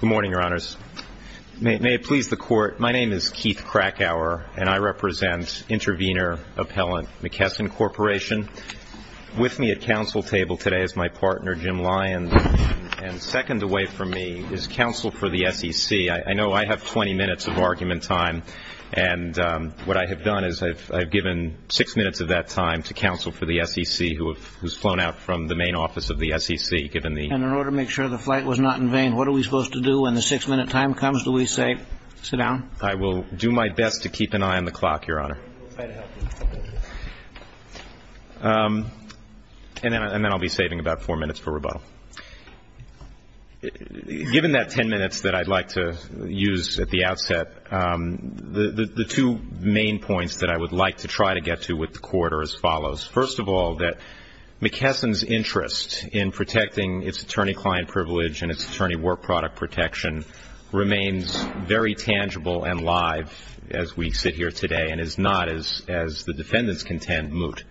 Good morning, your honors. May it please the court, my name is Keith Krakauer and I represent Intervenor Appellant McKesson Corporation. With me at council table today is my partner Jim Lyons and second away from me is counsel for the SEC. I know I have 20 minutes of argument time and what I have done is I've given 6 minutes of that time to counsel for the SEC who's flown out from the main office of the SEC. And in order to make sure the flight was not in vain, what are we supposed to do when the 6 minute time comes, do we say sit down? I will do my best to keep an eye on the clock, your honor. And then I'll be saving about 4 minutes for rebuttal. Given that 10 minutes that I'd like to use at the outset, the two main points that I would like to try to get to with the court are as follows. First of all, that McKesson's interest in protecting its attorney client privilege and its attorney work product protection remains very tangible and live as we sit here today and is not, as the defendants contend, moot.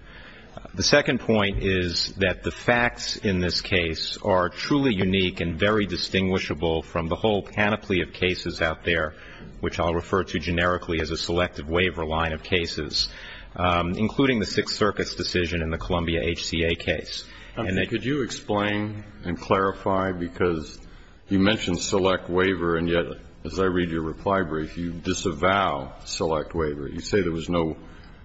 The second point is that the facts in this case are truly unique and very distinguishable from the whole panoply of cases out there, which I'll refer to generically as a selective waiver line of cases, including the Sixth Circuit's decision in the Columbia HCA case. Could you explain and clarify, because you mentioned select waiver and yet, as I read your reply brief, you disavow select waiver. You say there was no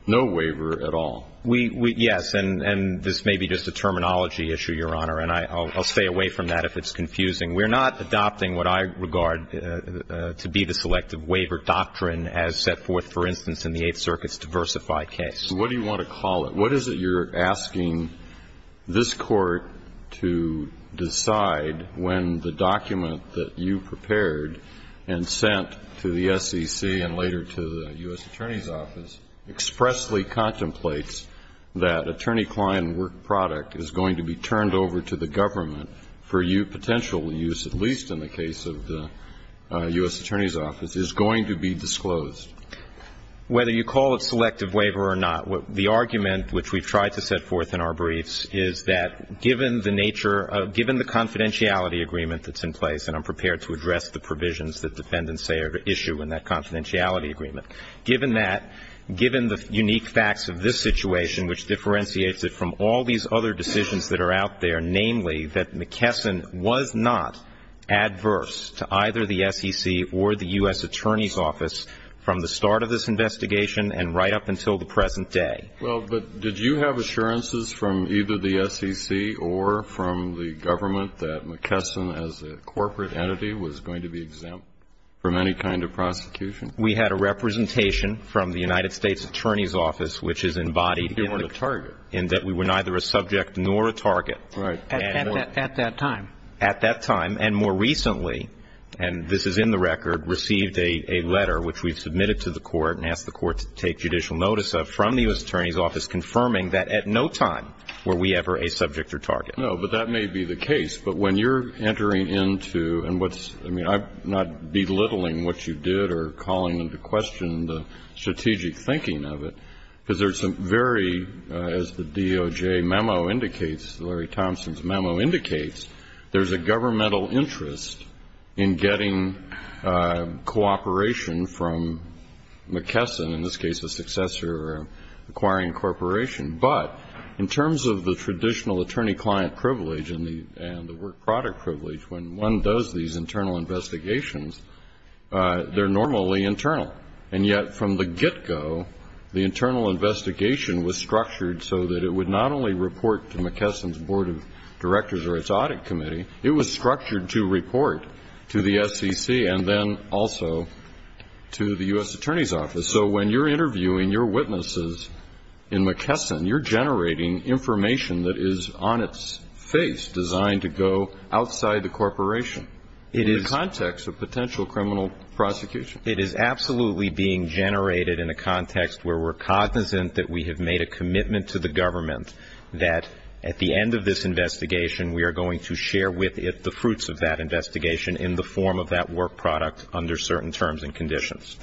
waiver at all. Yes, and this may be just a terminology issue, your honor, and I'll stay away from that if it's confusing. We're not adopting what I regard to be the selective waiver doctrine as set forth, for instance, in the Eighth Circuit's diversify case. What do you want to call it? What is it you're asking this Court to decide when the document that you prepared and sent to the SEC and later to the U.S. Attorney's Office is going to be disclosed? Whether you call it selective waiver or not, the argument which we've tried to set forth in our briefs is that given the nature of the confidentiality agreement that's in place, and I'm prepared to address the provisions that defendants say are at issue in that confidentiality agreement, given that, given the unique facts of this situation, which differentiates it from all these other decisions that are out there, namely, that McKesson was not adverse to either the SEC or the U.S. Attorney's Office from the start of this investigation and right up until the present day. Well, but did you have assurances from either the SEC or from the government that McKesson, as a corporate entity, was going to be exempt from any kind of prosecution? We had a representation from the United States Attorney's Office, which is embodied in that we were neither a subject nor a target. Right. At that time. At that time. And more recently, and this is in the record, received a letter, which we've submitted to the court and asked the court to take judicial notice of, from the U.S. Attorney's Office confirming that at no time were we ever a subject or target. No, but that may be the case. But when you're entering into, and what's, I mean, I'm not belittling what you did or calling into question the strategic thinking of it, because there's some very, as the DOJ memo indicates, Larry Thompson's memo indicates, there's a governmental interest in getting cooperation from McKesson, in this case a successor or acquiring corporation. But in terms of the traditional attorney-client privilege and the work-product privilege, when one does these internal investigations, they're normally internal. And yet from the get-go, the internal investigation was structured so that it would not only report to McKesson's Board of Directors or its Audit Committee, it was structured to report to the SEC and then also to the U.S. Attorney's Office. So when you're interviewing your witnesses in McKesson, you're generating information that is on its face, designed to go outside the corporation in the context of potential criminal prosecution. It is absolutely being generated in a context where we're cognizant that we have made a commitment to the government that at the end of this investigation, we are going to share with it the fruits of that investigation in the form of that work-product under certain terms and conditions.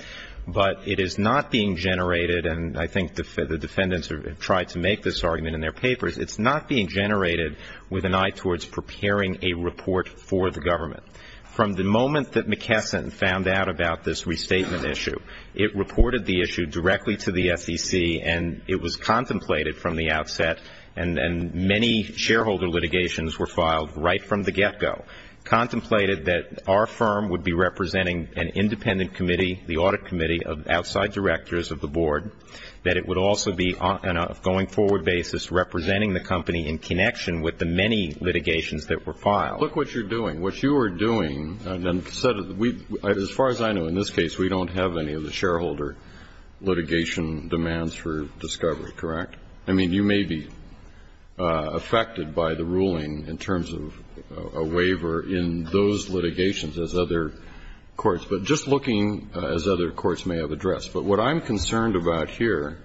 But it is not being generated, and I think the defendants have tried to make this argument in their papers, it's not being generated with an eye towards preparing a report for the government. From the moment that McKesson found out about this restatement issue, it reported the issue directly to the SEC, and it was contemplated from the outset, and many shareholder litigations were filed right from the get-go, contemplated that our firm would be representing an independent committee, the Audit Committee of outside directors of the Board, that it would also be, on a going-forward basis, representing the company in connection with the many litigations that were filed. Look what you're doing. What you are doing, and as far as I know, in this case, we don't have any of the shareholder litigation demands for discovery, correct? I mean, you may be affected by the ruling in terms of a waiver in those litigations as other courts. But just looking as other courts may have addressed. But what I'm concerned about here,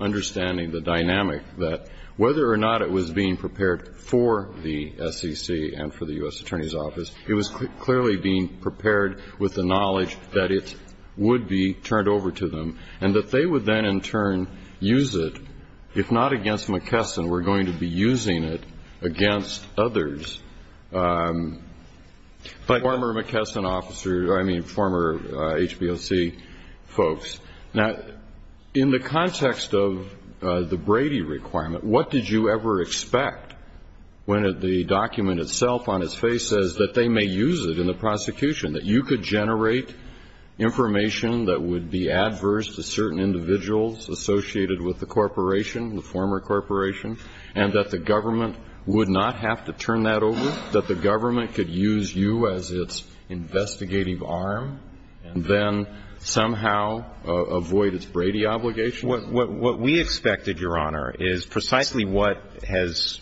understanding the dynamic, that whether or not it was being prepared for the SEC and for the U.S. Attorney's Office, it was clearly being prepared with the knowledge that it would be turned over to them, and that they would then, in turn, use it, if not against McKesson, were going to be using it against others. Former McKesson officers, I mean, former HBOC folks. Now, in the context of the Brady requirement, what did you ever expect when the document itself, on its face, says that they may use it in the prosecution? That you could generate information that would be adverse to certain individuals associated with the corporation, the former corporation, and that the government would not have to turn that over? That the government could use you as its investigative arm and then somehow avoid its Brady obligation? What we expected, Your Honor, is precisely what has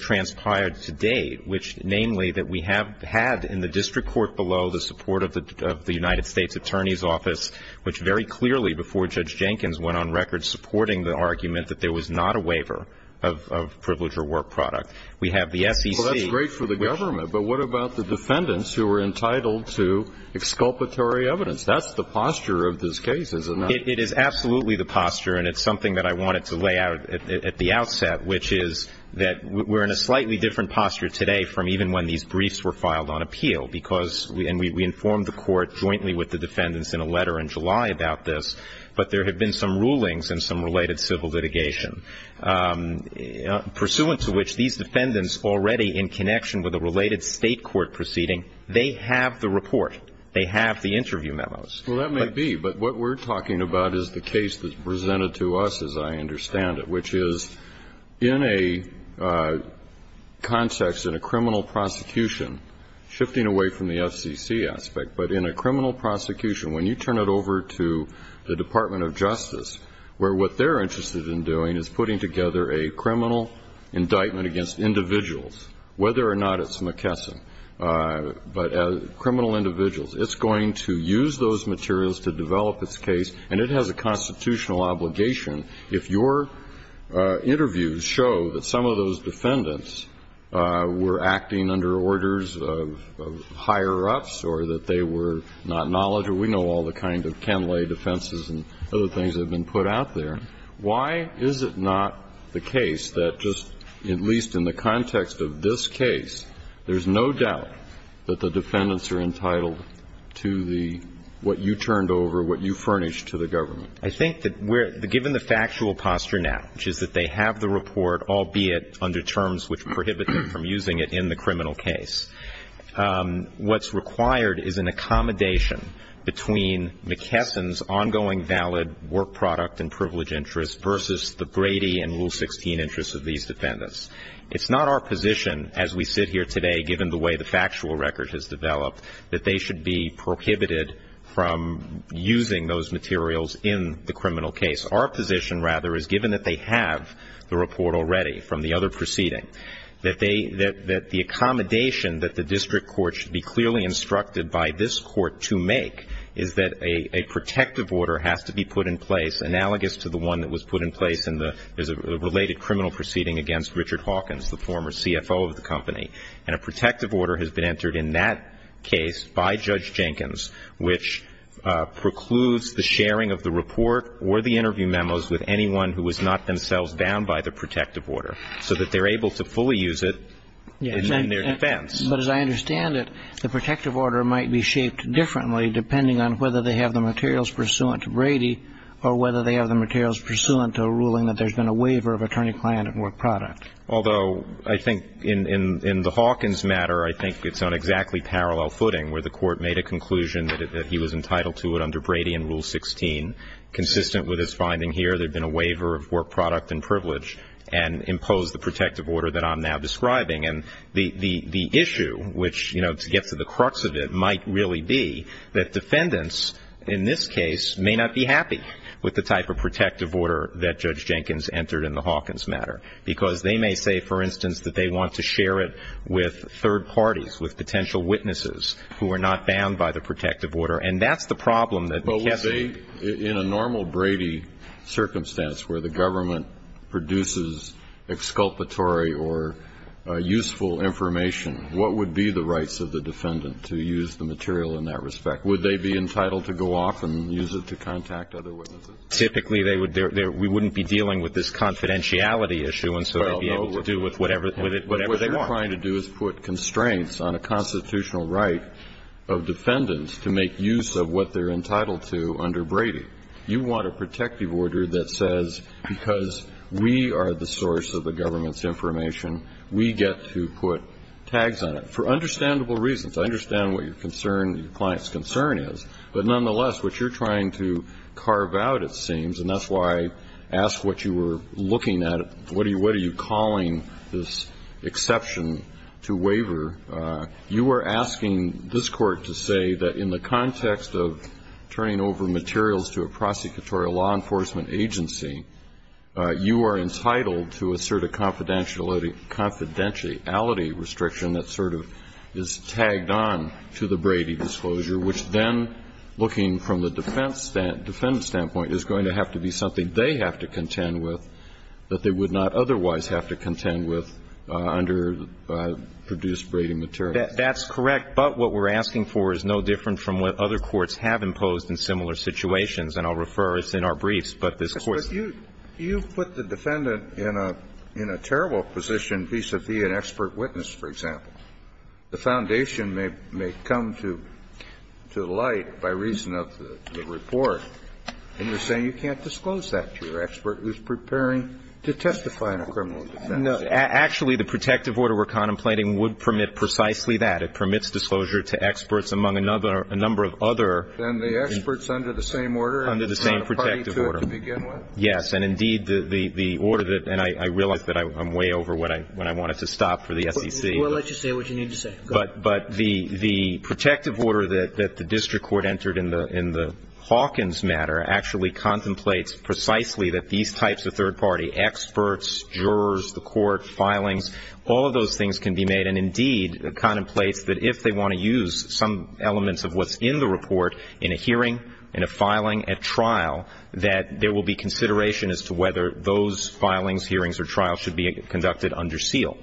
transpired to date, which namely that we have had in the district court below the support of the United States Attorney's Office, which very clearly before Judge Jenkins went on record supporting the argument that there was not a waiver of privilege or work product. We have the SEC. Well, that's great for the government, but what about the defendants who were entitled to exculpatory evidence? That's the posture of this case, isn't it? It is absolutely the posture, and it's something that I wanted to lay out at the outset, which is that we're in a slightly different posture today from even when these briefs were filed on appeal, and we informed the court jointly with the defendants in a letter in July about this, but there have been some rulings and some related civil litigation, pursuant to which these defendants already in connection with a related state court proceeding, they have the report. They have the interview memos. Well, that may be, but what we're talking about is the case that's presented to us, as I understand it, which is in a context, in a criminal prosecution, shifting away from the FCC aspect, but in a criminal prosecution, when you turn it over to the Department of Justice, where what they're interested in doing is putting together a criminal indictment against individuals, whether or not it's McKesson, but criminal individuals, it's going to use those materials to develop its case, and it has a constitutional obligation. If your interviews show that some of those defendants were acting under orders of higher-ups or that they were not knowledgeable, we know all the kind of canlay defenses and other things that have been put out there. Why is it not the case that just, at least in the context of this case, there's no doubt that the defendants are entitled to the what you turned over, what you furnished to the government? I think that given the factual posture now, which is that they have the report, albeit under terms which prohibit them from using it in the criminal case, what's required is an accommodation between McKesson's ongoing valid work product and privilege interests versus the Brady and Rule 16 interests of these defendants. It's not our position, as we sit here today, given the way the factual record has developed, that they should be prohibited from using those materials in the criminal case. Our position, rather, is given that they have the report already from the other proceeding, that the accommodation that the district court should be clearly instructed by this court to make is that a protective order has to be put in place analogous to the one that was put in place in the related criminal proceeding against Richard Hawkins, the former CFO of the company, and a protective order has been entered in that case by Judge Jenkins, which precludes the sharing of the report or the interview memos with anyone who was not themselves bound by the protective order, so that they're able to fully use it in their defense. But as I understand it, the protective order might be shaped differently depending on whether they have the materials pursuant to Brady or whether they have the materials pursuant to a ruling that there's been a waiver of attorney-client and work product. Although I think in the Hawkins matter, I think it's on exactly parallel footing where the court made a conclusion that he was entitled to it under Brady and Rule 16. Consistent with his finding here, there had been a waiver of work product and privilege and imposed the protective order that I'm now describing. And the issue, which, you know, to get to the crux of it, might really be that defendants in this case may not be happy with the type of protective order that Judge Jenkins entered in the Hawkins matter because they may say, for instance, that they want to share it with third parties, with potential witnesses who are not bound by the protective order. And that's the problem that the case would be. But would they, in a normal Brady circumstance where the government produces exculpatory or useful information, what would be the rights of the defendant to use the material in that respect? Would they be entitled to go off and use it to contact other witnesses? Typically, we wouldn't be dealing with this confidentiality issue, and so they'd be able to do with it whatever they want. But what you're trying to do is put constraints on a constitutional right of defendants to make use of what they're entitled to under Brady. You want a protective order that says, because we are the source of the government's information, we get to put tags on it. For understandable reasons. I understand what your client's concern is. But nonetheless, what you're trying to carve out, it seems, and that's why I asked what you were looking at, what are you calling this exception to waiver, you are asking this Court to say that in the context of turning over materials to a prosecutorial law enforcement agency, you are entitled to assert a confidentiality restriction that sort of is tagged on to the Brady disclosure, which then, looking from the defendant's standpoint, is going to have to be something they have to contend with that they would not otherwise have to contend with under produced Brady materials. That's correct. But what we're asking for is no different from what other courts have imposed in similar situations. And I'll refer, it's in our briefs, but this Court's. But you put the defendant in a terrible position vis-a-vis an expert witness, for example. The foundation may come to light by reason of the report, and you're saying you can't disclose that to your expert who's preparing to testify in a criminal defense. No. Actually, the protective order we're contemplating would permit precisely that. It permits disclosure to experts, among a number of other. And the experts under the same order? Under the same protective order. And a party to it to begin with? Yes. And indeed, the order that, and I realize that I'm way over when I wanted to stop for the SEC. We'll let you say what you need to say. Go ahead. But the protective order that the district court entered in the Hawkins matter actually contemplates precisely that these types of third party experts, jurors, the court, filings, all of those things can be made. And indeed, it contemplates that if they want to use some elements of what's in the report in a hearing, in a filing, a trial, that there will be consideration as to whether those filings, hearings or trials should be conducted under seal,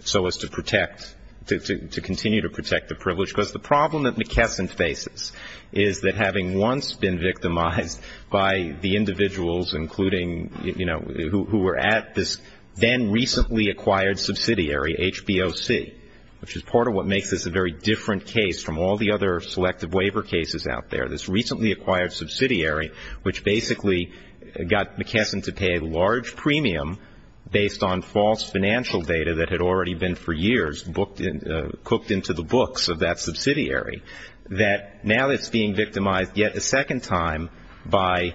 so as to protect, to continue to protect the privilege. Because the problem that McKesson faces is that having once been victimized by the individuals including, you know, who were at this then recently acquired subsidiary, HBOC, which is part of what makes this a very different case from all the other selective waiver cases out there. This recently acquired subsidiary, which basically got McKesson to pay a large premium based on false financial data that had already been for years cooked into the books of that subsidiary. That now it's being victimized yet a second time by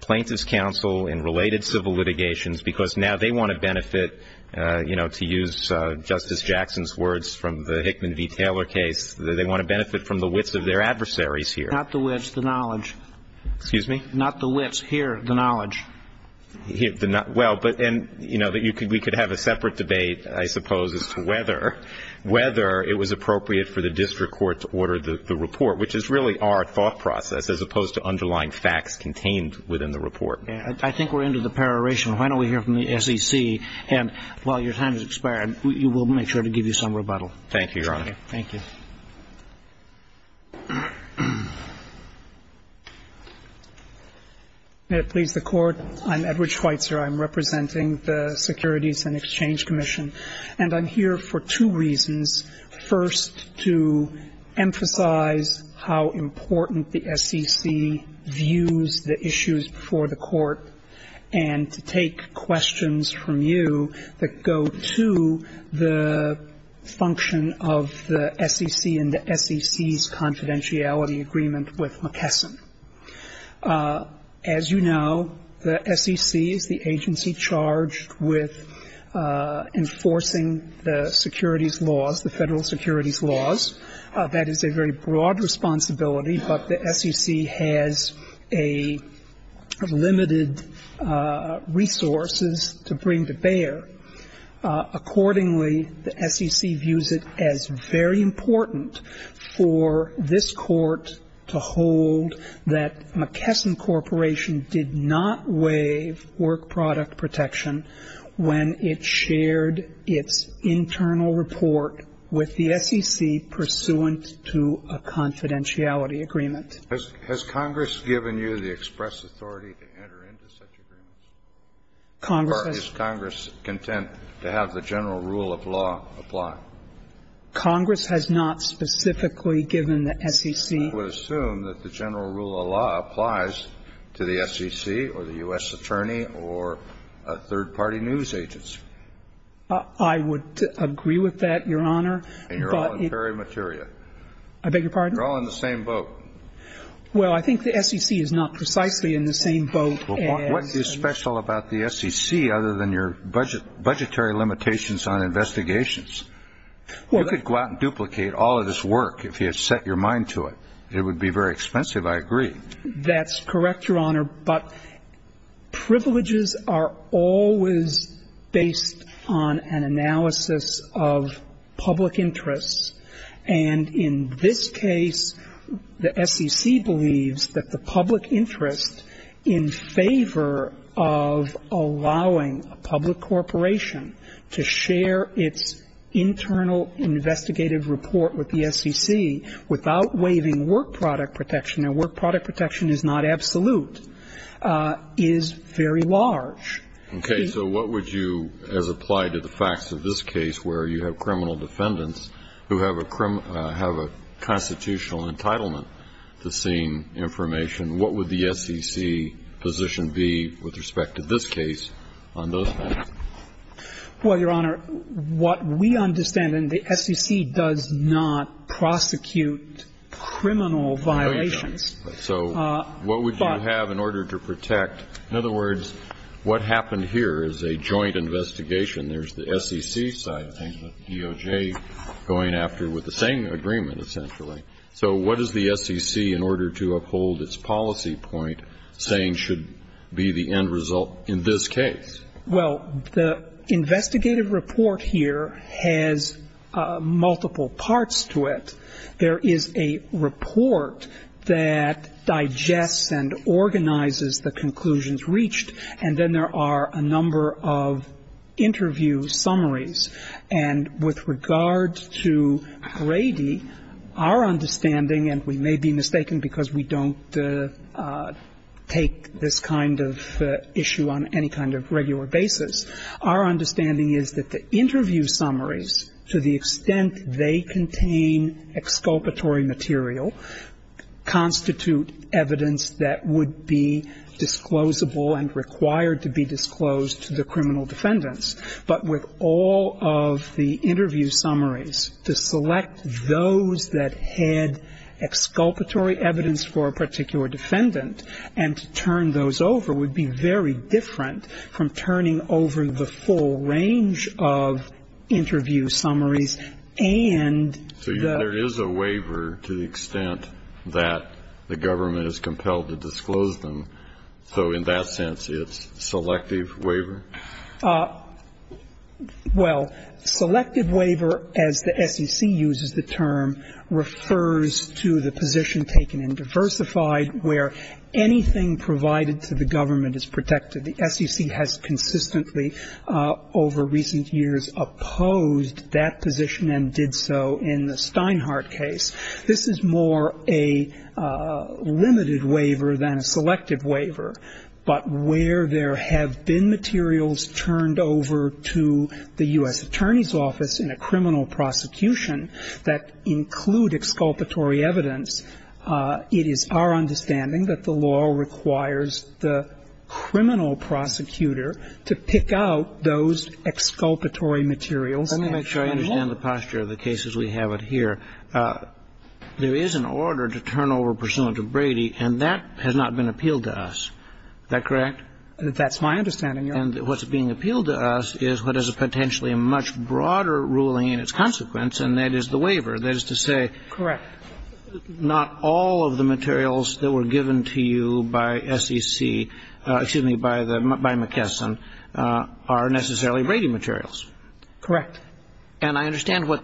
plaintiff's counsel and related civil litigations because now they want to benefit, you know, to use Justice Jackson's words from the Hickman v. Taylor case, they want to benefit from the wits of their adversaries here. Not the wits, the knowledge. Excuse me? Not the wits. Here, the knowledge. Well, but then, you know, we could have a separate debate I suppose as to whether it was appropriate for the district court to order the report, which is really our thought process as opposed to underlying facts contained within the report. I think we're into the peroration. Why don't we hear from the SEC and while your time has expired, we will make sure to give you some rebuttal. Thank you, Your Honor. Thank you. May it please the Court. I'm Edward Schweitzer. I'm representing the Securities and Exchange Commission. And I'm here for two reasons. First, to emphasize how important the SEC views the issues before the Court and to take questions from you that go to the function of the SEC and the SEC's confidentiality agreement with McKesson. As you know, the SEC is the agency charged with enforcing the securities laws, the federal securities laws. That is a very broad responsibility, but the SEC has a limited resources to bring to bear. Accordingly, the SEC views it as very important for this Court to hold that McKesson Corporation did not waive work product protection when it shared its internal report with the SEC pursuant to a confidentiality agreement. Has Congress given you the express authority to enter into such agreements? Congress has. Or is Congress content to have the general rule of law apply? Congress has not specifically given the SEC. I would assume that the general rule of law applies to the SEC or the U.S. attorney or a third-party news agency. I would agree with that, Your Honor. And you're all in very much area. I beg your pardon? You're all in the same boat. Well, I think the SEC is not precisely in the same boat as the U.S. What is special about the SEC other than your budgetary limitations on investigations? You could go out and duplicate all of this work if you had set your mind to it. It would be very expensive, I agree. That's correct, Your Honor. But privileges are always based on an analysis of public interests. And in this case, the SEC believes that the public interest in favor of allowing a public corporation to share its internal investigative report with the SEC without waiving work product protection, and work product protection is not absolute, is very large. Okay. So what would you, as applied to the facts of this case, where you have criminal defendants who have a constitutional entitlement to seeing information, what would the SEC position be with respect to this case on those facts? Well, Your Honor, what we understand, and the SEC does not prosecute criminal violations. No, you don't. So what would you have in order to protect? In other words, what happened here is a joint investigation. There's the SEC side of things, the DOJ going after with the same agreement, essentially. So what is the SEC, in order to uphold its policy point, saying should be the end result in this case? Well, the investigative report here has multiple parts to it. There is a report that digests and organizes the conclusions reached, and then there are a number of interview summaries. And with regard to Brady, our understanding, and we may be mistaken because we don't take this kind of issue on any kind of regular basis, our understanding is that the interview summaries, to the extent they contain exculpatory material, constitute evidence that would be disclosable and required to be disclosed to the criminal defendants. But with all of the interview summaries, to select those that had exculpatory evidence for a particular defendant and to turn those over would be very different from turning over the full range of interview summaries. And the ---- So there is a waiver to the extent that the government is compelled to disclose them. So in that sense, it's selective waiver? Well, selective waiver, as the SEC uses the term, refers to the position taken in diversified where anything provided to the government is protected. The SEC has consistently, over recent years, opposed that position and did so in the Steinhardt case. This is more a limited waiver than a selective waiver. But where there have been materials turned over to the U.S. Attorney's Office in a criminal prosecution that include exculpatory evidence, it is our understanding that the law requires the criminal prosecutor to pick out those exculpatory materials. Let me make sure I understand the posture of the cases we have here. There is an order to turn over a pursuant to Brady, and that has not been appealed to us. That's my understanding, Your Honor. And what's being appealed to us is what is potentially a much broader ruling in its consequence, and that is the waiver. That is to say, not all of the materials that were given to you by SEC, excuse me, by McKesson are necessarily Brady materials. Correct. And I understand what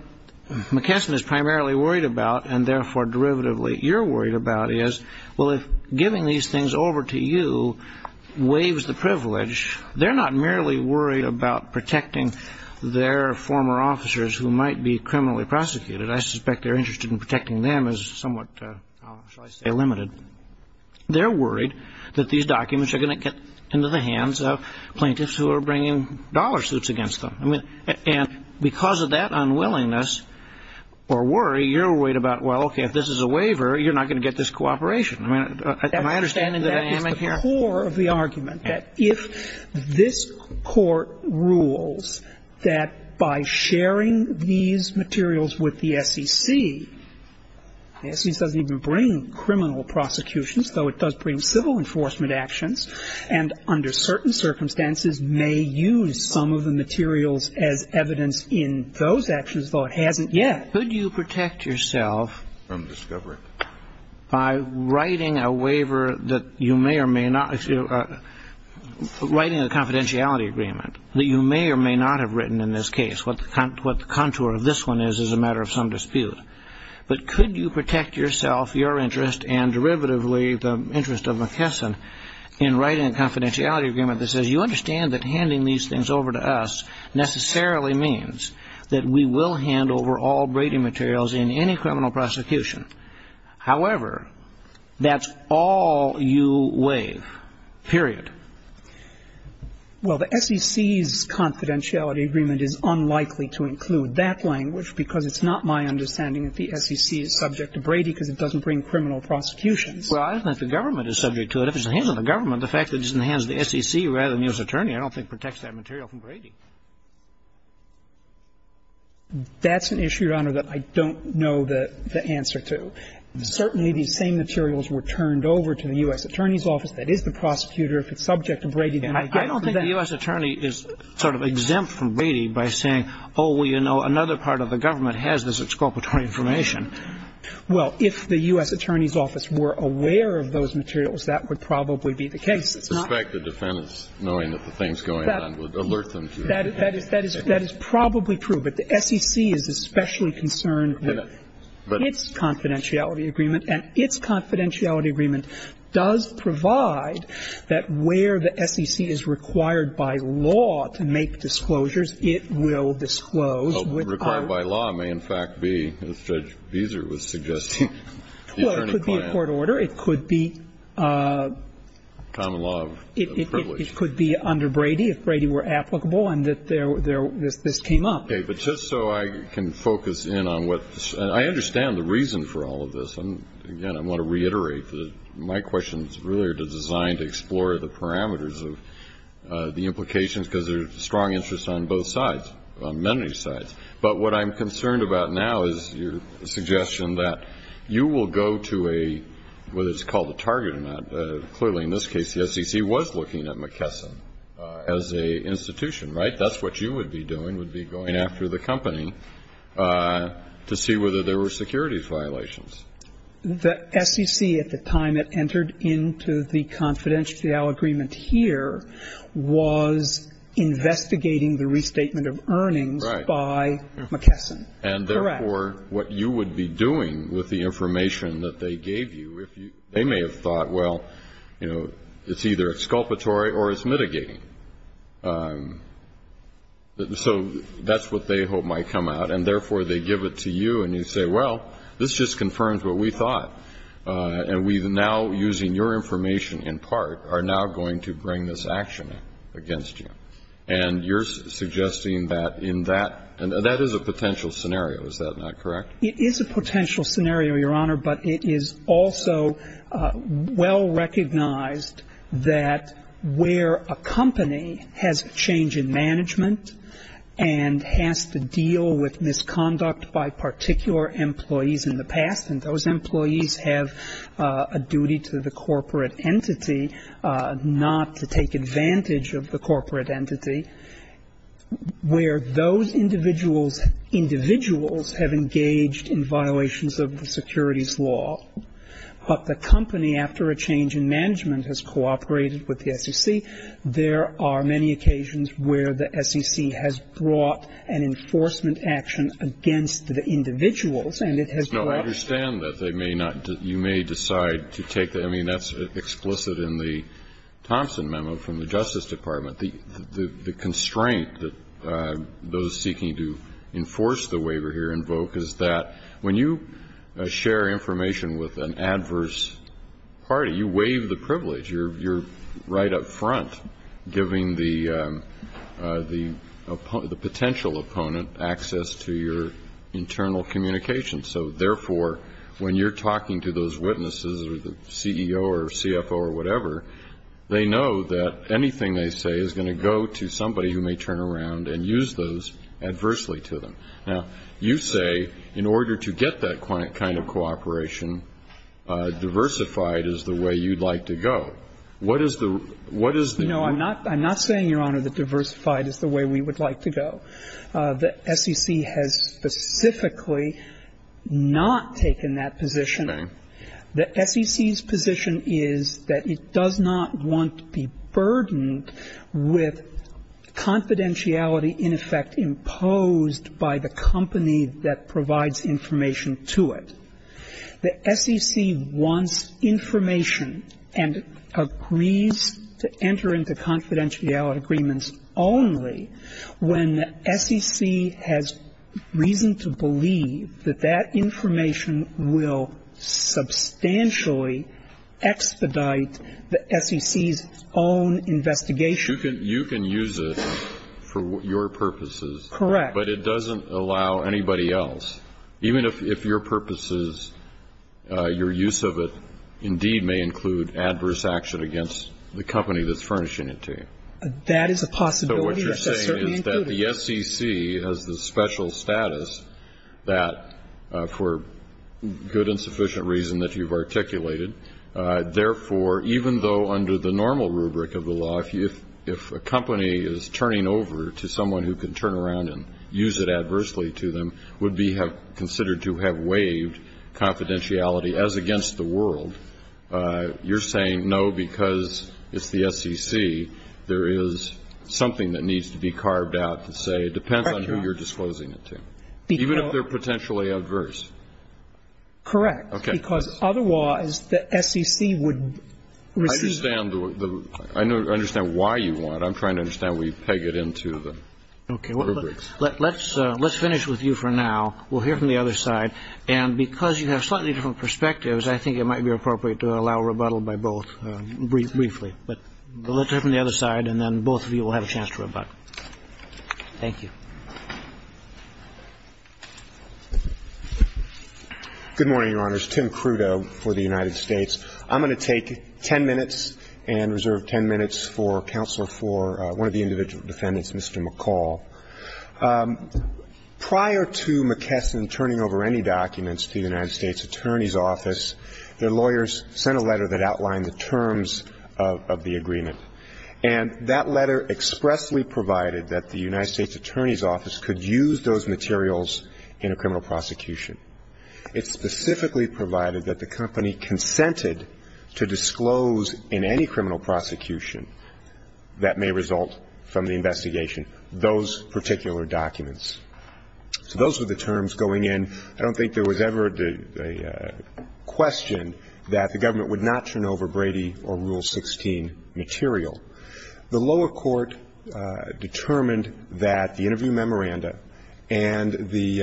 McKesson is primarily worried about and, therefore, derivatively, what you're worried about is, well, if giving these things over to you waives the privilege, they're not merely worried about protecting their former officers who might be criminally prosecuted. I suspect their interest in protecting them is somewhat, shall I say, limited. They're worried that these documents are going to get into the hands of plaintiffs who are bringing dollar suits against them. And because of that unwillingness or worry, you're worried about, well, okay, if this is a waiver, you're not going to get this cooperation. Am I understanding the dynamic here? That is the core of the argument, that if this Court rules that by sharing these materials with the SEC, the SEC doesn't even bring criminal prosecutions, though it does bring civil enforcement actions, and under certain circumstances may use some of the materials as evidence in those actions, though it hasn't yet. Could you protect yourself by writing a waiver that you may or may not, writing a confidentiality agreement that you may or may not have written in this case? What the contour of this one is is a matter of some dispute. But could you protect yourself, your interest, and derivatively the interest of McKesson, in writing a confidentiality agreement that says you understand that handing these things over to us necessarily means that we will hand over all Brady materials in any criminal prosecution. However, that's all you waive, period. Well, the SEC's confidentiality agreement is unlikely to include that language because it's not my understanding that the SEC is subject to Brady because it doesn't bring criminal prosecutions. Well, I don't think the government is subject to it. If it's in the hands of the government, the fact that it's in the hands of the SEC rather than the U.S. attorney, I don't think protects that material from Brady. That's an issue, Your Honor, that I don't know the answer to. Certainly, these same materials were turned over to the U.S. Attorney's Office. That is the prosecutor. If it's subject to Brady, then I get it. I don't think the U.S. attorney is sort of exempt from Brady by saying, oh, well, you know, another part of the government has this exculpatory information. Well, if the U.S. Attorney's Office were aware of those materials, that would probably be the case. It's not the defense knowing that the things going on would alert them to it. That is probably true. But the SEC is especially concerned with its confidentiality agreement, and its confidentiality agreement does provide that where the SEC is required by law to make disclosures, it will disclose. Well, required by law may in fact be, as Judge Beezer was suggesting, the attorney client. Well, it could be a court order. It could be a common law of privilege. It could be under Brady if Brady were applicable and that this came up. Okay. But just so I can focus in on what the ---- I understand the reason for all of this. Again, I want to reiterate that my questions really are designed to explore the parameters of the implications because there's a strong interest on both sides, on many sides. But what I'm concerned about now is your suggestion that you will go to a ---- whether it's called a target or not. Clearly, in this case, the SEC was looking at McKesson as an institution, right? That's what you would be doing, would be going after the company to see whether there were securities violations. The SEC, at the time it entered into the confidentiality agreement here, was investigating the restatement of earnings by McKesson. Right. Correct. And therefore, what you would be doing with the information that they gave you, they may have thought, well, you know, it's either exculpatory or it's mitigating. So that's what they hope might come out. And therefore, they give it to you and you say, well, this just confirms what we thought. And we now, using your information in part, are now going to bring this action against you. And you're suggesting that in that ---- that is a potential scenario, is that not correct? It is a potential scenario, Your Honor, but it is also well recognized that where a company has a change in management and has to deal with misconduct by particular employees in the past, and those employees have a duty to the corporate entity not to take advantage of the corporate entity, where those individuals have engaged in violations of the securities law, but the company, after a change in management, has cooperated with the SEC, there are many occasions where the SEC has brought an enforcement action against the individuals, and it has brought ---- No, I understand that. They may not ---- you may decide to take the ---- I mean, that's explicit in the Thompson memo from the Justice Department. The constraint that those seeking to enforce the waiver here invoke is that when you share information with an adverse party, you waive the privilege. You're right up front giving the potential opponent access to your internal communication. So, therefore, when you're talking to those witnesses or the CEO or CFO or whatever, they know that anything they say is going to go to somebody who may turn around and use those adversely to them. Now, you say in order to get that kind of cooperation, diversified is the way you'd like to go. What is the ---- what is the ---- No, I'm not saying, Your Honor, that diversified is the way we would like to go. The SEC has specifically not taken that position. Okay. The SEC's position is that it does not want to be burdened with confidentiality in effect imposed by the company that provides information to it. The SEC wants information and agrees to enter into confidentiality agreements only when the SEC has reason to believe that that information will substantially expedite the SEC's own investigation. But you can use it for your purposes. Correct. But it doesn't allow anybody else, even if your purposes, your use of it, indeed may include adverse action against the company that's furnishing it to you. That is a possibility that's certainly included. So what you're saying is that the SEC has the special status that, for good and sufficient reason that you've articulated, therefore, even though under the normal rubric of the law, if a company is turning over to someone who can turn around and use it adversely to them, would be considered to have waived confidentiality as against the world, you're saying, no, because it's the SEC, there is something that needs to be carved out to say it depends on who you're disclosing it to, even if they're potentially adverse. Correct. Because otherwise, the SEC would receive it. I understand why you want it. I'm trying to understand where you peg it into the rubrics. Okay. Let's finish with you for now. We'll hear from the other side. And because you have slightly different perspectives, I think it might be appropriate to allow rebuttal by both briefly. But let's hear from the other side, and then both of you will have a chance to rebut. Thank you. Good morning, Your Honors. Tim Crudo for the United States. I'm going to take ten minutes and reserve ten minutes for counsel for one of the individual defendants, Mr. McCall. Prior to McKesson turning over any documents to the United States Attorney's Office, their lawyers sent a letter that outlined the terms of the agreement. And that letter expressly provided that the United States Attorney's Office could use those materials in a criminal prosecution. It specifically provided that the company consented to disclose in any criminal prosecution that may result from the investigation those particular documents. So those were the terms going in. I don't think there was ever a question that the government would not turn over Brady or Rule 16 material. The lower court determined that the interview memoranda and the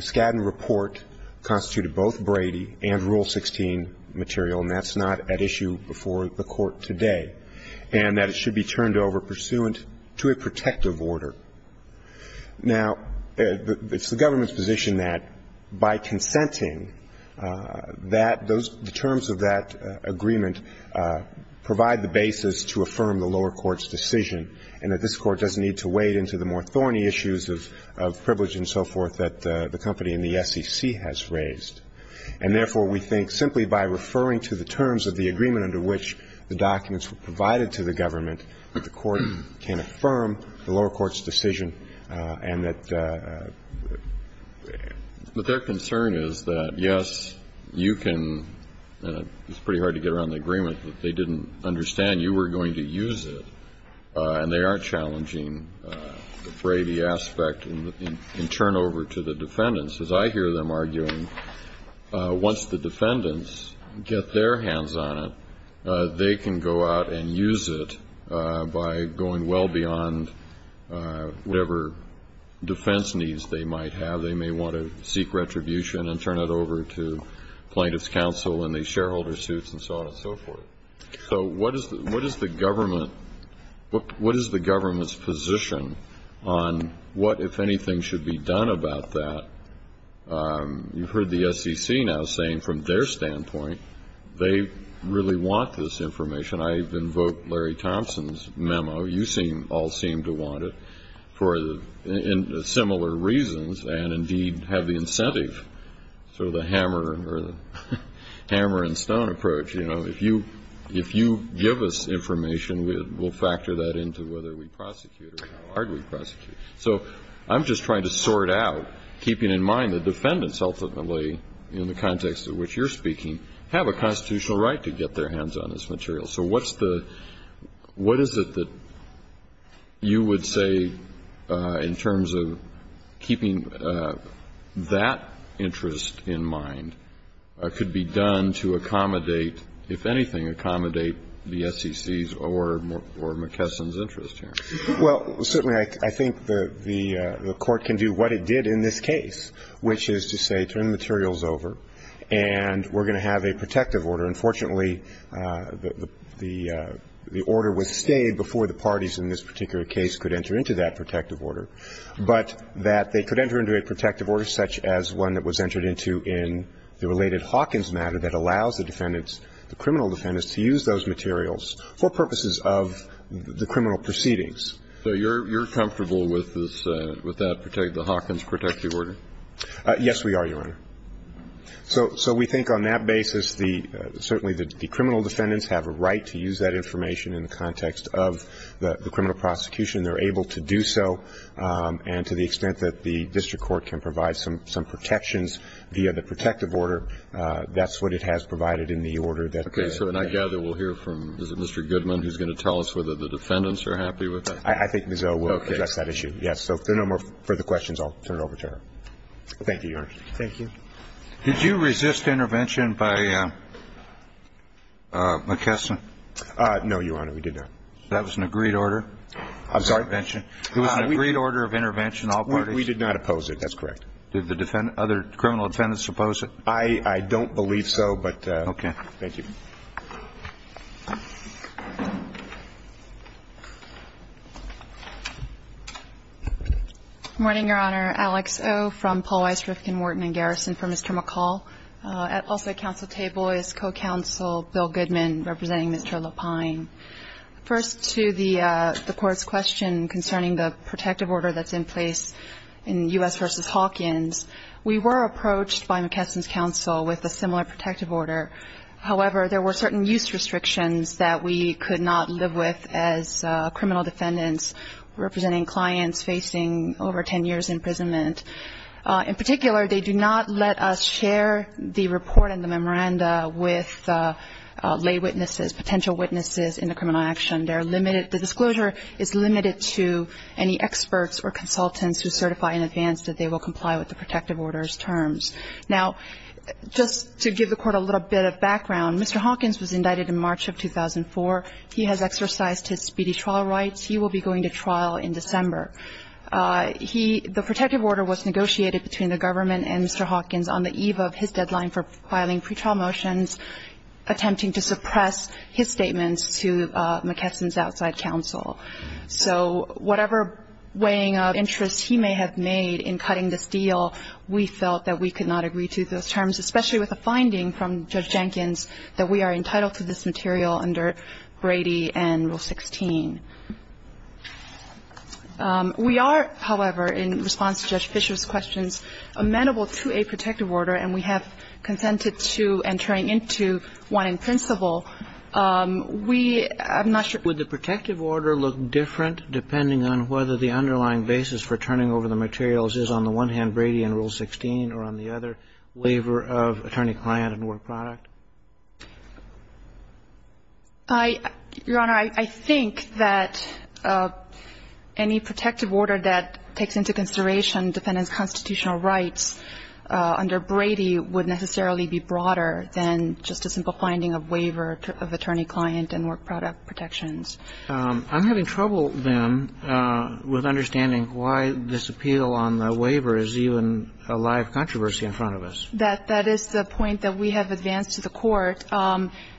Skadden report constituted both Brady and Rule 16 material, and that's not at issue before the court today, and that it should be turned over pursuant to a protective order. Now, it's the government's position that by consenting, that those terms of that agreement provide the basis to affirm the lower court's decision, and that this Court doesn't need to wade into the more thorny issues of privilege and so forth that the company and the SEC has raised. And therefore, we think simply by referring to the terms of the agreement under which the documents were provided to the government, that the Court can affirm the lower court's decision, and that their concern is that, yes, you can, it's pretty hard to get around the agreement that they didn't understand you were going to use it, and they aren't challenging the Brady aspect in turnover to the defendants. As I hear them arguing, once the defendants get their hands on it, they can go out and use it by going well beyond whatever defense needs they might have. They may want to seek retribution and turn it over to plaintiff's counsel in these cases and so on and so forth. So what is the government's position on what, if anything, should be done about that? You've heard the SEC now saying from their standpoint they really want this information. I've invoked Larry Thompson's memo. You all seem to want it for similar reasons and, indeed, have the incentive. So the hammer or the hammer and stone approach, you know, if you give us information, we'll factor that into whether we prosecute or how hard we prosecute. So I'm just trying to sort out, keeping in mind the defendants ultimately, in the context of which you're speaking, have a constitutional right to get their hands on this material. So what's the, what is it that you would say in terms of keeping that information and that interest in mind could be done to accommodate, if anything, accommodate the SEC's or McKesson's interest here? Well, certainly I think the Court can do what it did in this case, which is to say turn the materials over and we're going to have a protective order. And fortunately, the order was stayed before the parties in this particular case could enter into that protective order, but that they could enter into a protective order such as one that was entered into in the related Hawkins matter that allows the defendants, the criminal defendants, to use those materials for purposes of the criminal proceedings. So you're comfortable with this, with that, the Hawkins protective order? Yes, we are, Your Honor. So we think on that basis, certainly the criminal defendants have a right to use that information in the context of the criminal prosecution. They're able to do so. And to the extent that the district court can provide some protections via the protective order, that's what it has provided in the order that they have. Okay. So then I gather we'll hear from, is it Mr. Goodman who's going to tell us whether the defendants are happy with that? I think Ms. O will address that issue. Okay. Yes. So if there are no more further questions, I'll turn it over to her. Thank you, Your Honor. Thank you. Did you resist intervention by McKesson? No, Your Honor. We did not. That was an agreed order? I'm sorry? It was an agreed order of intervention, all parties? We did not oppose it. That's correct. Did the other criminal defendants oppose it? I don't believe so, but thank you. Okay. Good morning, Your Honor. Alex O from Paul Weiss, Rifkin, Wharton & Garrison for Mr. McCall. Also at counsel table is co-counsel Bill Goodman representing Mr. Lapine. First to the Court's question concerning the protective order that's in place in U.S. v. Hawkins. We were approached by McKesson's counsel with a similar protective order. However, there were certain use restrictions that we could not live with as criminal defendants representing clients facing over 10 years' imprisonment. In particular, they do not let us share the report and the memoranda with lay witnesses, potential witnesses in the criminal action. The disclosure is limited to any experts or consultants who certify in advance that they will comply with the protective order's terms. Now, just to give the Court a little bit of background, Mr. Hawkins was indicted in March of 2004. He has exercised his speedy trial rights. He will be going to trial in December. The protective order was negotiated between the government and Mr. Hawkins on the eve of his deadline for filing pretrial motions, attempting to suppress his statements to McKesson's outside counsel. So whatever weighing of interests he may have made in cutting this deal, we felt that we could not agree to those terms, especially with a finding from Judge Jenkins that we are entitled to this material under Brady and Rule 16. We are, however, in response to Judge Fischer's questions, amenable to a protective order, and we have consented to entering into one in principle. We, I'm not sure. Kagan would the protective order look different depending on whether the underlying basis for turning over the materials is on the one hand Brady and Rule 16 or on the other, waiver of attorney-client and work product? I, Your Honor, I think that any protective order that takes into consideration defendant's constitutional rights under Brady would necessarily be broader than just a simple finding of waiver of attorney-client and work product protections. I'm having trouble, then, with understanding why this appeal on the waiver is even a live controversy in front of us. That is the point that we have advanced to the Court.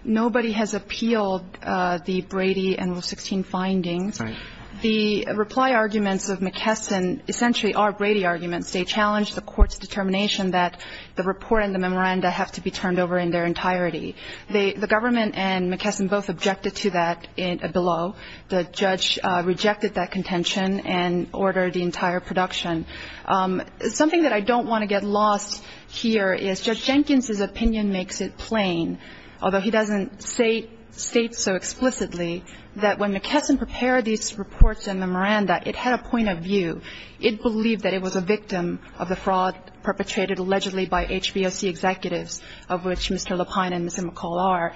Nobody has appealed the Brady and Rule 16 findings. Right. The reply arguments of McKesson essentially are Brady arguments. They challenge the Court's determination that the report and the memoranda have to be turned over in their entirety. The government and McKesson both objected to that below. The judge rejected that contention and ordered the entire production. Something that I don't want to get lost here is Judge Jenkins's opinion makes it plain, although he doesn't state so explicitly, that when McKesson prepared these reports and memoranda, it had a point of view. It believed that it was a victim of the fraud perpetrated allegedly by HBOC executives, of which Mr. Lapine and Ms. McCall are.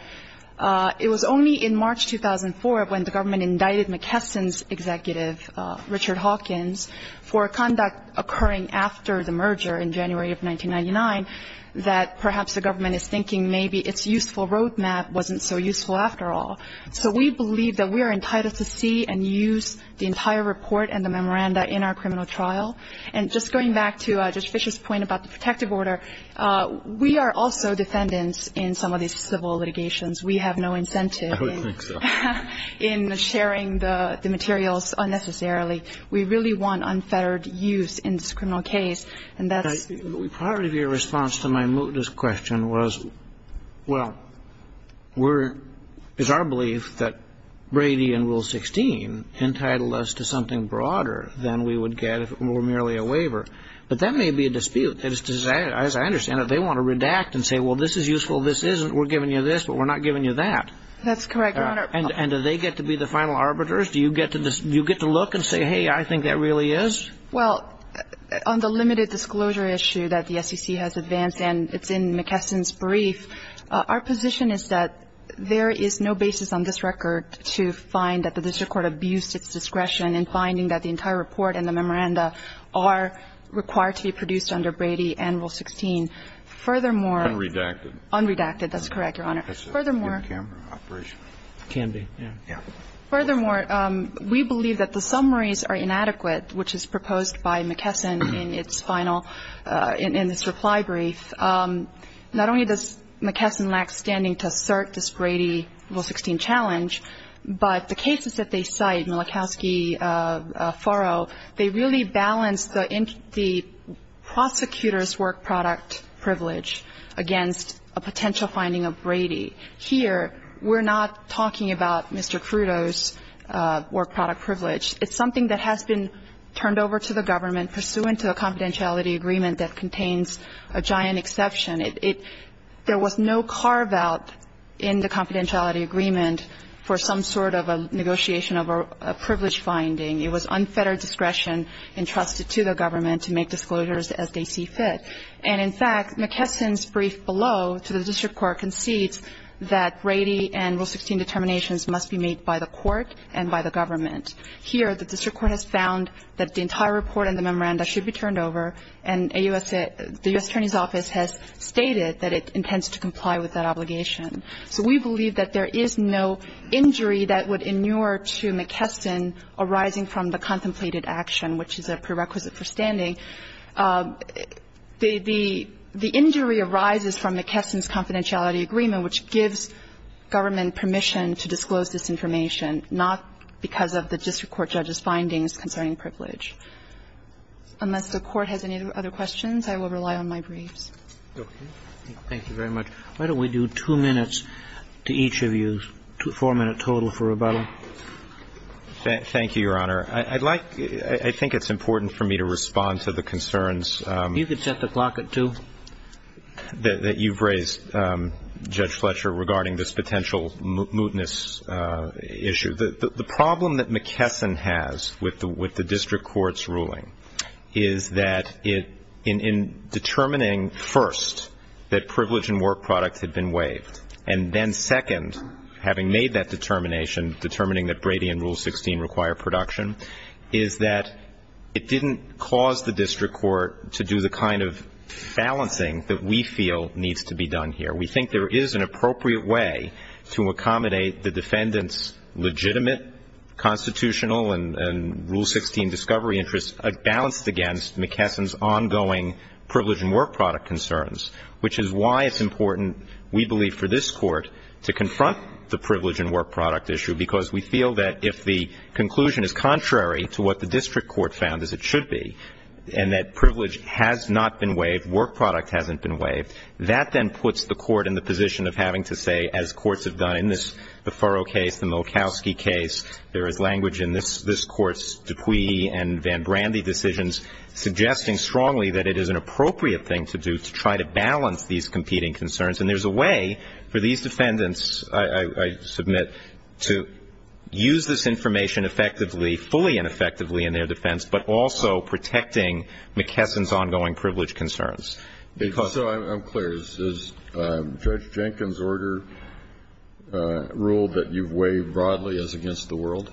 It was only in March 2004 when the government indicted McKesson's executive, Richard Hawkins, for conduct occurring after the merger in January of 1999, that perhaps the government is thinking maybe its useful roadmap wasn't so useful after all. So we believe that we are entitled to see and use the entire report and the memoranda in our criminal trial. And just going back to Judge Fischer's point about the protective order, we are also defendants in some of these civil litigations. We have no incentive in sharing the materials unnecessarily. We really want unfettered use in this criminal case. And that's... But part of your response to my mootness question was, well, it's our belief that Brady and Rule 16 entitled us to something broader than we would get if it were merely a waiver. But that may be a dispute. As I understand it, they want to redact and say, well, this is useful, this isn't, we're giving you this, but we're not giving you that. That's correct, Your Honor. And do they get to be the final arbiters? Do you get to look and say, hey, I think that really is? Well, on the limited disclosure issue that the SEC has advanced, and it's in McKesson's brief, our position is that there is no basis on this record to find that the district court abused its discretion in finding that the entire report and the memoranda are required to be produced under Brady and Rule 16. Furthermore... Unredacted. Unredacted, that's correct, Your Honor. Furthermore... It's a camera operation. It can be, yeah. Yeah. Furthermore, we believe that the summaries are inadequate, which is proposed by McKesson in its final, in this reply brief. Not only does McKesson lack standing to assert this Brady Rule 16 challenge, but the cases that they cite, Mielekowski, Faro, they really balance the prosecutor's Here, we're not talking about Mr. Crudo's work product privilege. It's something that has been turned over to the government pursuant to a confidentiality agreement that contains a giant exception. There was no carve-out in the confidentiality agreement for some sort of a negotiation of a privilege finding. It was unfettered discretion entrusted to the government to make disclosures as they see fit. And in fact, McKesson's brief below to the district court concedes that Brady and Rule 16 determinations must be made by the court and by the government. Here, the district court has found that the entire report and the memoranda should be turned over, and the U.S. Attorney's Office has stated that it intends to comply with that obligation. So we believe that there is no injury that would inure to McKesson arising from the contemplated action, which is a prerequisite for standing. The injury arises from McKesson's confidentiality agreement, which gives government permission to disclose this information, not because of the district court judge's findings concerning privilege. Unless the Court has any other questions, I will rely on my briefs. Roberts. Thank you very much. Why don't we do two minutes to each of you, four-minute total for rebuttal. Thank you, Your Honor. I'd like, I think it's important for me to respond to the concerns. You could set the clock at two. That you've raised, Judge Fletcher, regarding this potential mootness issue. The problem that McKesson has with the district court's ruling is that in determining first that privilege and work products had been waived, and then second, having made that determination, determining that Brady and Rule 16 require production, is that it didn't cause the district court to do the kind of balancing that we feel needs to be done here. We think there is an appropriate way to accommodate the defendant's legitimate constitutional and Rule 16 discovery interests balanced against McKesson's ongoing privilege and work product concerns, which is why it's important, we believe, for this work product issue, because we feel that if the conclusion is contrary to what the district court found as it should be, and that privilege has not been waived, work product hasn't been waived, that then puts the court in the position of having to say, as courts have done in this, the Furrow case, the Malkowski case, there is language in this court's Dupuy and Van Brandy decisions suggesting strongly that it is an appropriate thing to do to try to balance these competing concerns. And there's a way for these defendants, I submit, to use this information effectively, fully and effectively in their defense, but also protecting McKesson's ongoing privilege concerns. So I'm clear. Is Judge Jenkins' order ruled that you've waived broadly as against the world?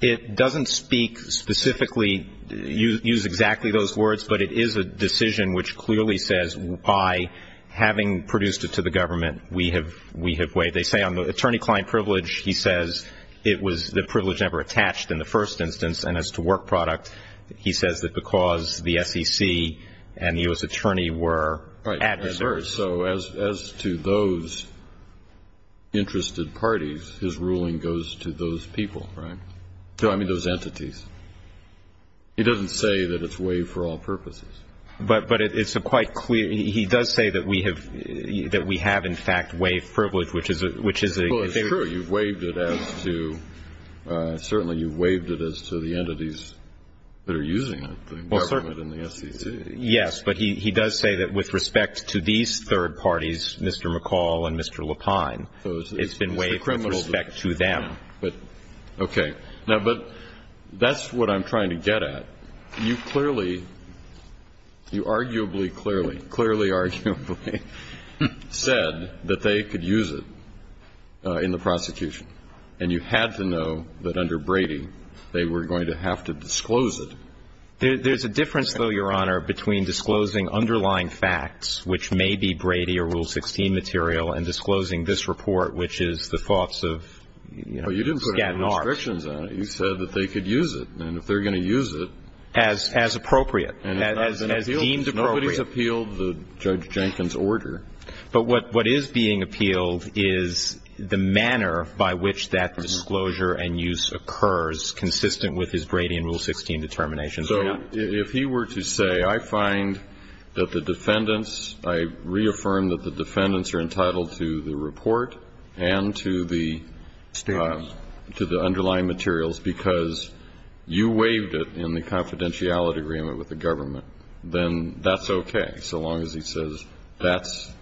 It doesn't speak specifically, use exactly those words, but it is a decision which clearly says, by having produced it to the government, we have waived. They say on the attorney-client privilege, he says it was the privilege never attached in the first instance. And as to work product, he says that because the SEC and the U.S. Attorney were adversaries. So as to those interested parties, his ruling goes to those people, right? I mean, those entities. He doesn't say that it's waived for all purposes. But it's quite clear. He does say that we have, in fact, waived privilege, which is a good thing. Well, sure, you've waived it as to the entities that are using it, the government and the SEC. Yes, but he does say that with respect to these third parties, Mr. McCall and Mr. Lapine, it's been waived with respect to them. Okay. Now, but that's what I'm trying to get at. You clearly, you arguably, clearly, clearly, arguably said that they could use it in the prosecution. And you had to know that under Brady, they were going to have to disclose it. There's a difference, though, Your Honor, between disclosing underlying facts, which may be Brady or Rule 16 material, and disclosing this report, which is the thoughts of, you know, Skadden Arch. But you didn't put any restrictions on it. You said that they could use it. And if they're going to use it. As appropriate. As deemed appropriate. Nobody's appealed Judge Jenkins' order. But what is being appealed is the manner by which that disclosure and use occurs consistent with his Brady and Rule 16 determinations. So if he were to say, I find that the defendants, I reaffirm that the defendants are entitled to the report and to the underlying materials because you waived it in the confidentiality agreement with the government, then that's okay. So long as he says that's.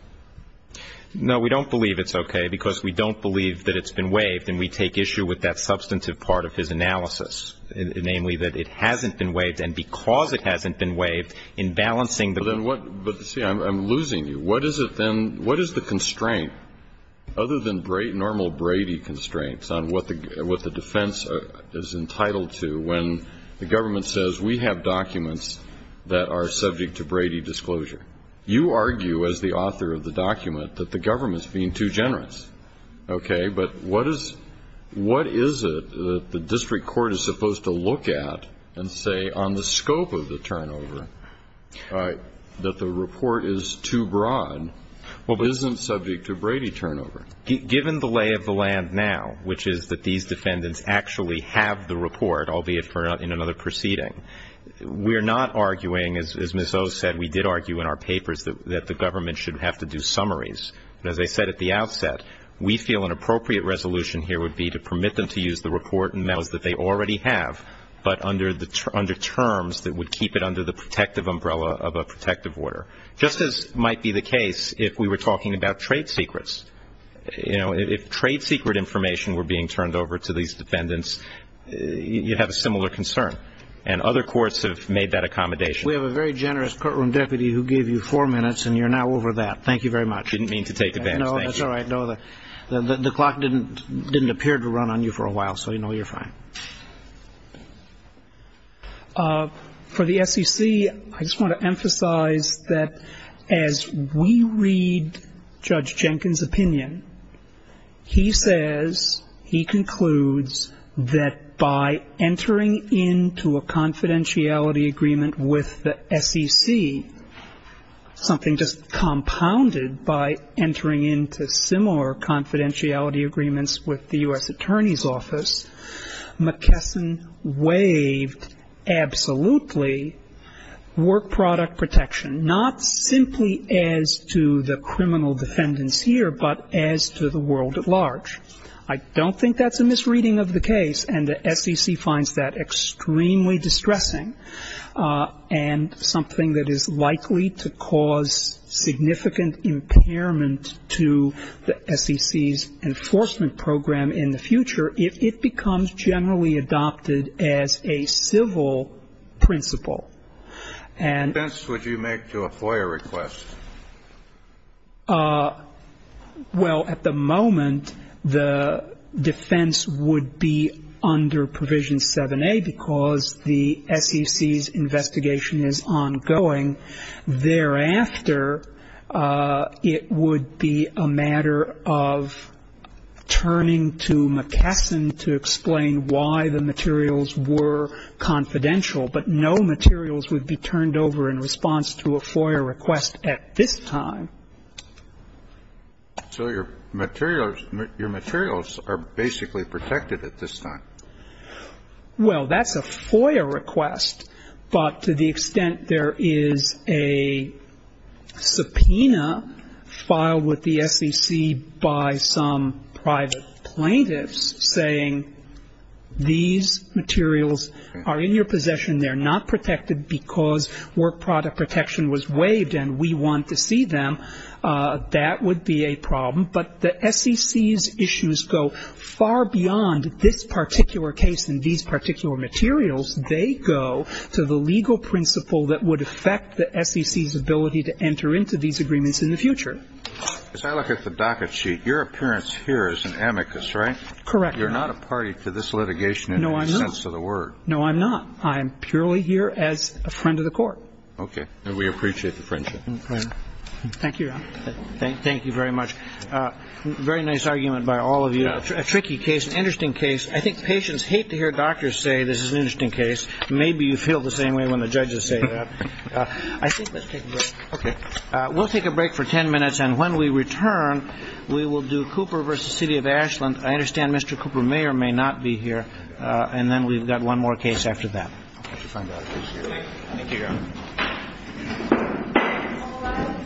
No, we don't believe it's okay because we don't believe that it's been waived. And we take issue with that substantive part of his analysis. Namely, that it hasn't been waived. And because it hasn't been waived, in balancing the. But see, I'm losing you. What is it then, what is the constraint, other than normal Brady constraints, on what the defense is entitled to when the government says we have documents that are subject to Brady disclosure? You argue as the author of the document that the government's being too generous. Okay. But what is it that the district court is supposed to look at and say on the scope of the turnover that the report is too broad? Well, but. Isn't subject to Brady turnover. Given the lay of the land now, which is that these defendants actually have the report, albeit in another proceeding, we're not arguing, as Ms. O said, we did argue in our papers that the government should have to do summaries. And as I said at the outset, we feel an appropriate resolution here would be to permit them to use the report and metals that they already have, but under terms that would keep it under the protective umbrella of a protective order. Just as might be the case if we were talking about trade secrets. You know, if trade secret information were being turned over to these defendants, you'd have a similar concern. And other courts have made that accommodation. We have a very generous courtroom deputy who gave you four minutes, and you're now over that. Thank you very much. Didn't mean to take advantage. No, that's all right. The clock didn't appear to run on you for a while, so you know you're fine. For the SEC, I just want to emphasize that as we read Judge Jenkins' opinion, he says, he concludes that by entering into a confidentiality agreement with the SEC, something just compounded by entering into similar confidentiality agreements with the U.S. Attorney's Office, McKesson waived absolutely work product protection, not simply as to the criminal defendants here, but as to the world at large. I don't think that's a misreading of the case, and the SEC finds that extremely distressing and something that is likely to cause significant impairment to the SEC's enforcement program in the future if it becomes generally adopted as a civil principle. What defense would you make to a FOIA request? Well, at the moment, the defense would be under Provision 7a because the SEC's investigation is ongoing. Thereafter, it would be a matter of turning to McKesson to explain why the materials were confidential, but no materials would be turned over in response to a FOIA request at this time. So your materials are basically protected at this time? Well, that's a FOIA request, but to the extent there is a subpoena filed with the SEC by some private plaintiffs saying these materials are in your possession, they're not protected because work product protection was waived and we want to see them, that would be a problem. But the SEC's issues go far beyond this particular case and these particular materials. They go to the legal principle that would affect the SEC's ability to enter into these agreements in the future. As I look at the docket sheet, your appearance here is an amicus, right? Correct. You're not a party to this litigation in any sense of the word. No, I'm not. I am purely here as a friend of the Court. Okay. And we appreciate the friendship. Thank you, Your Honor. Thank you very much. Very nice argument by all of you. A tricky case, an interesting case. I think patients hate to hear doctors say this is an interesting case. Maybe you feel the same way when the judges say that. I think let's take a break. Okay. We'll take a break for ten minutes, and when we return, we will do Cooper v. City of Ashland. I understand Mr. Cooper Mayer may not be here. And then we've got one more case after that. Thank you, Your Honor.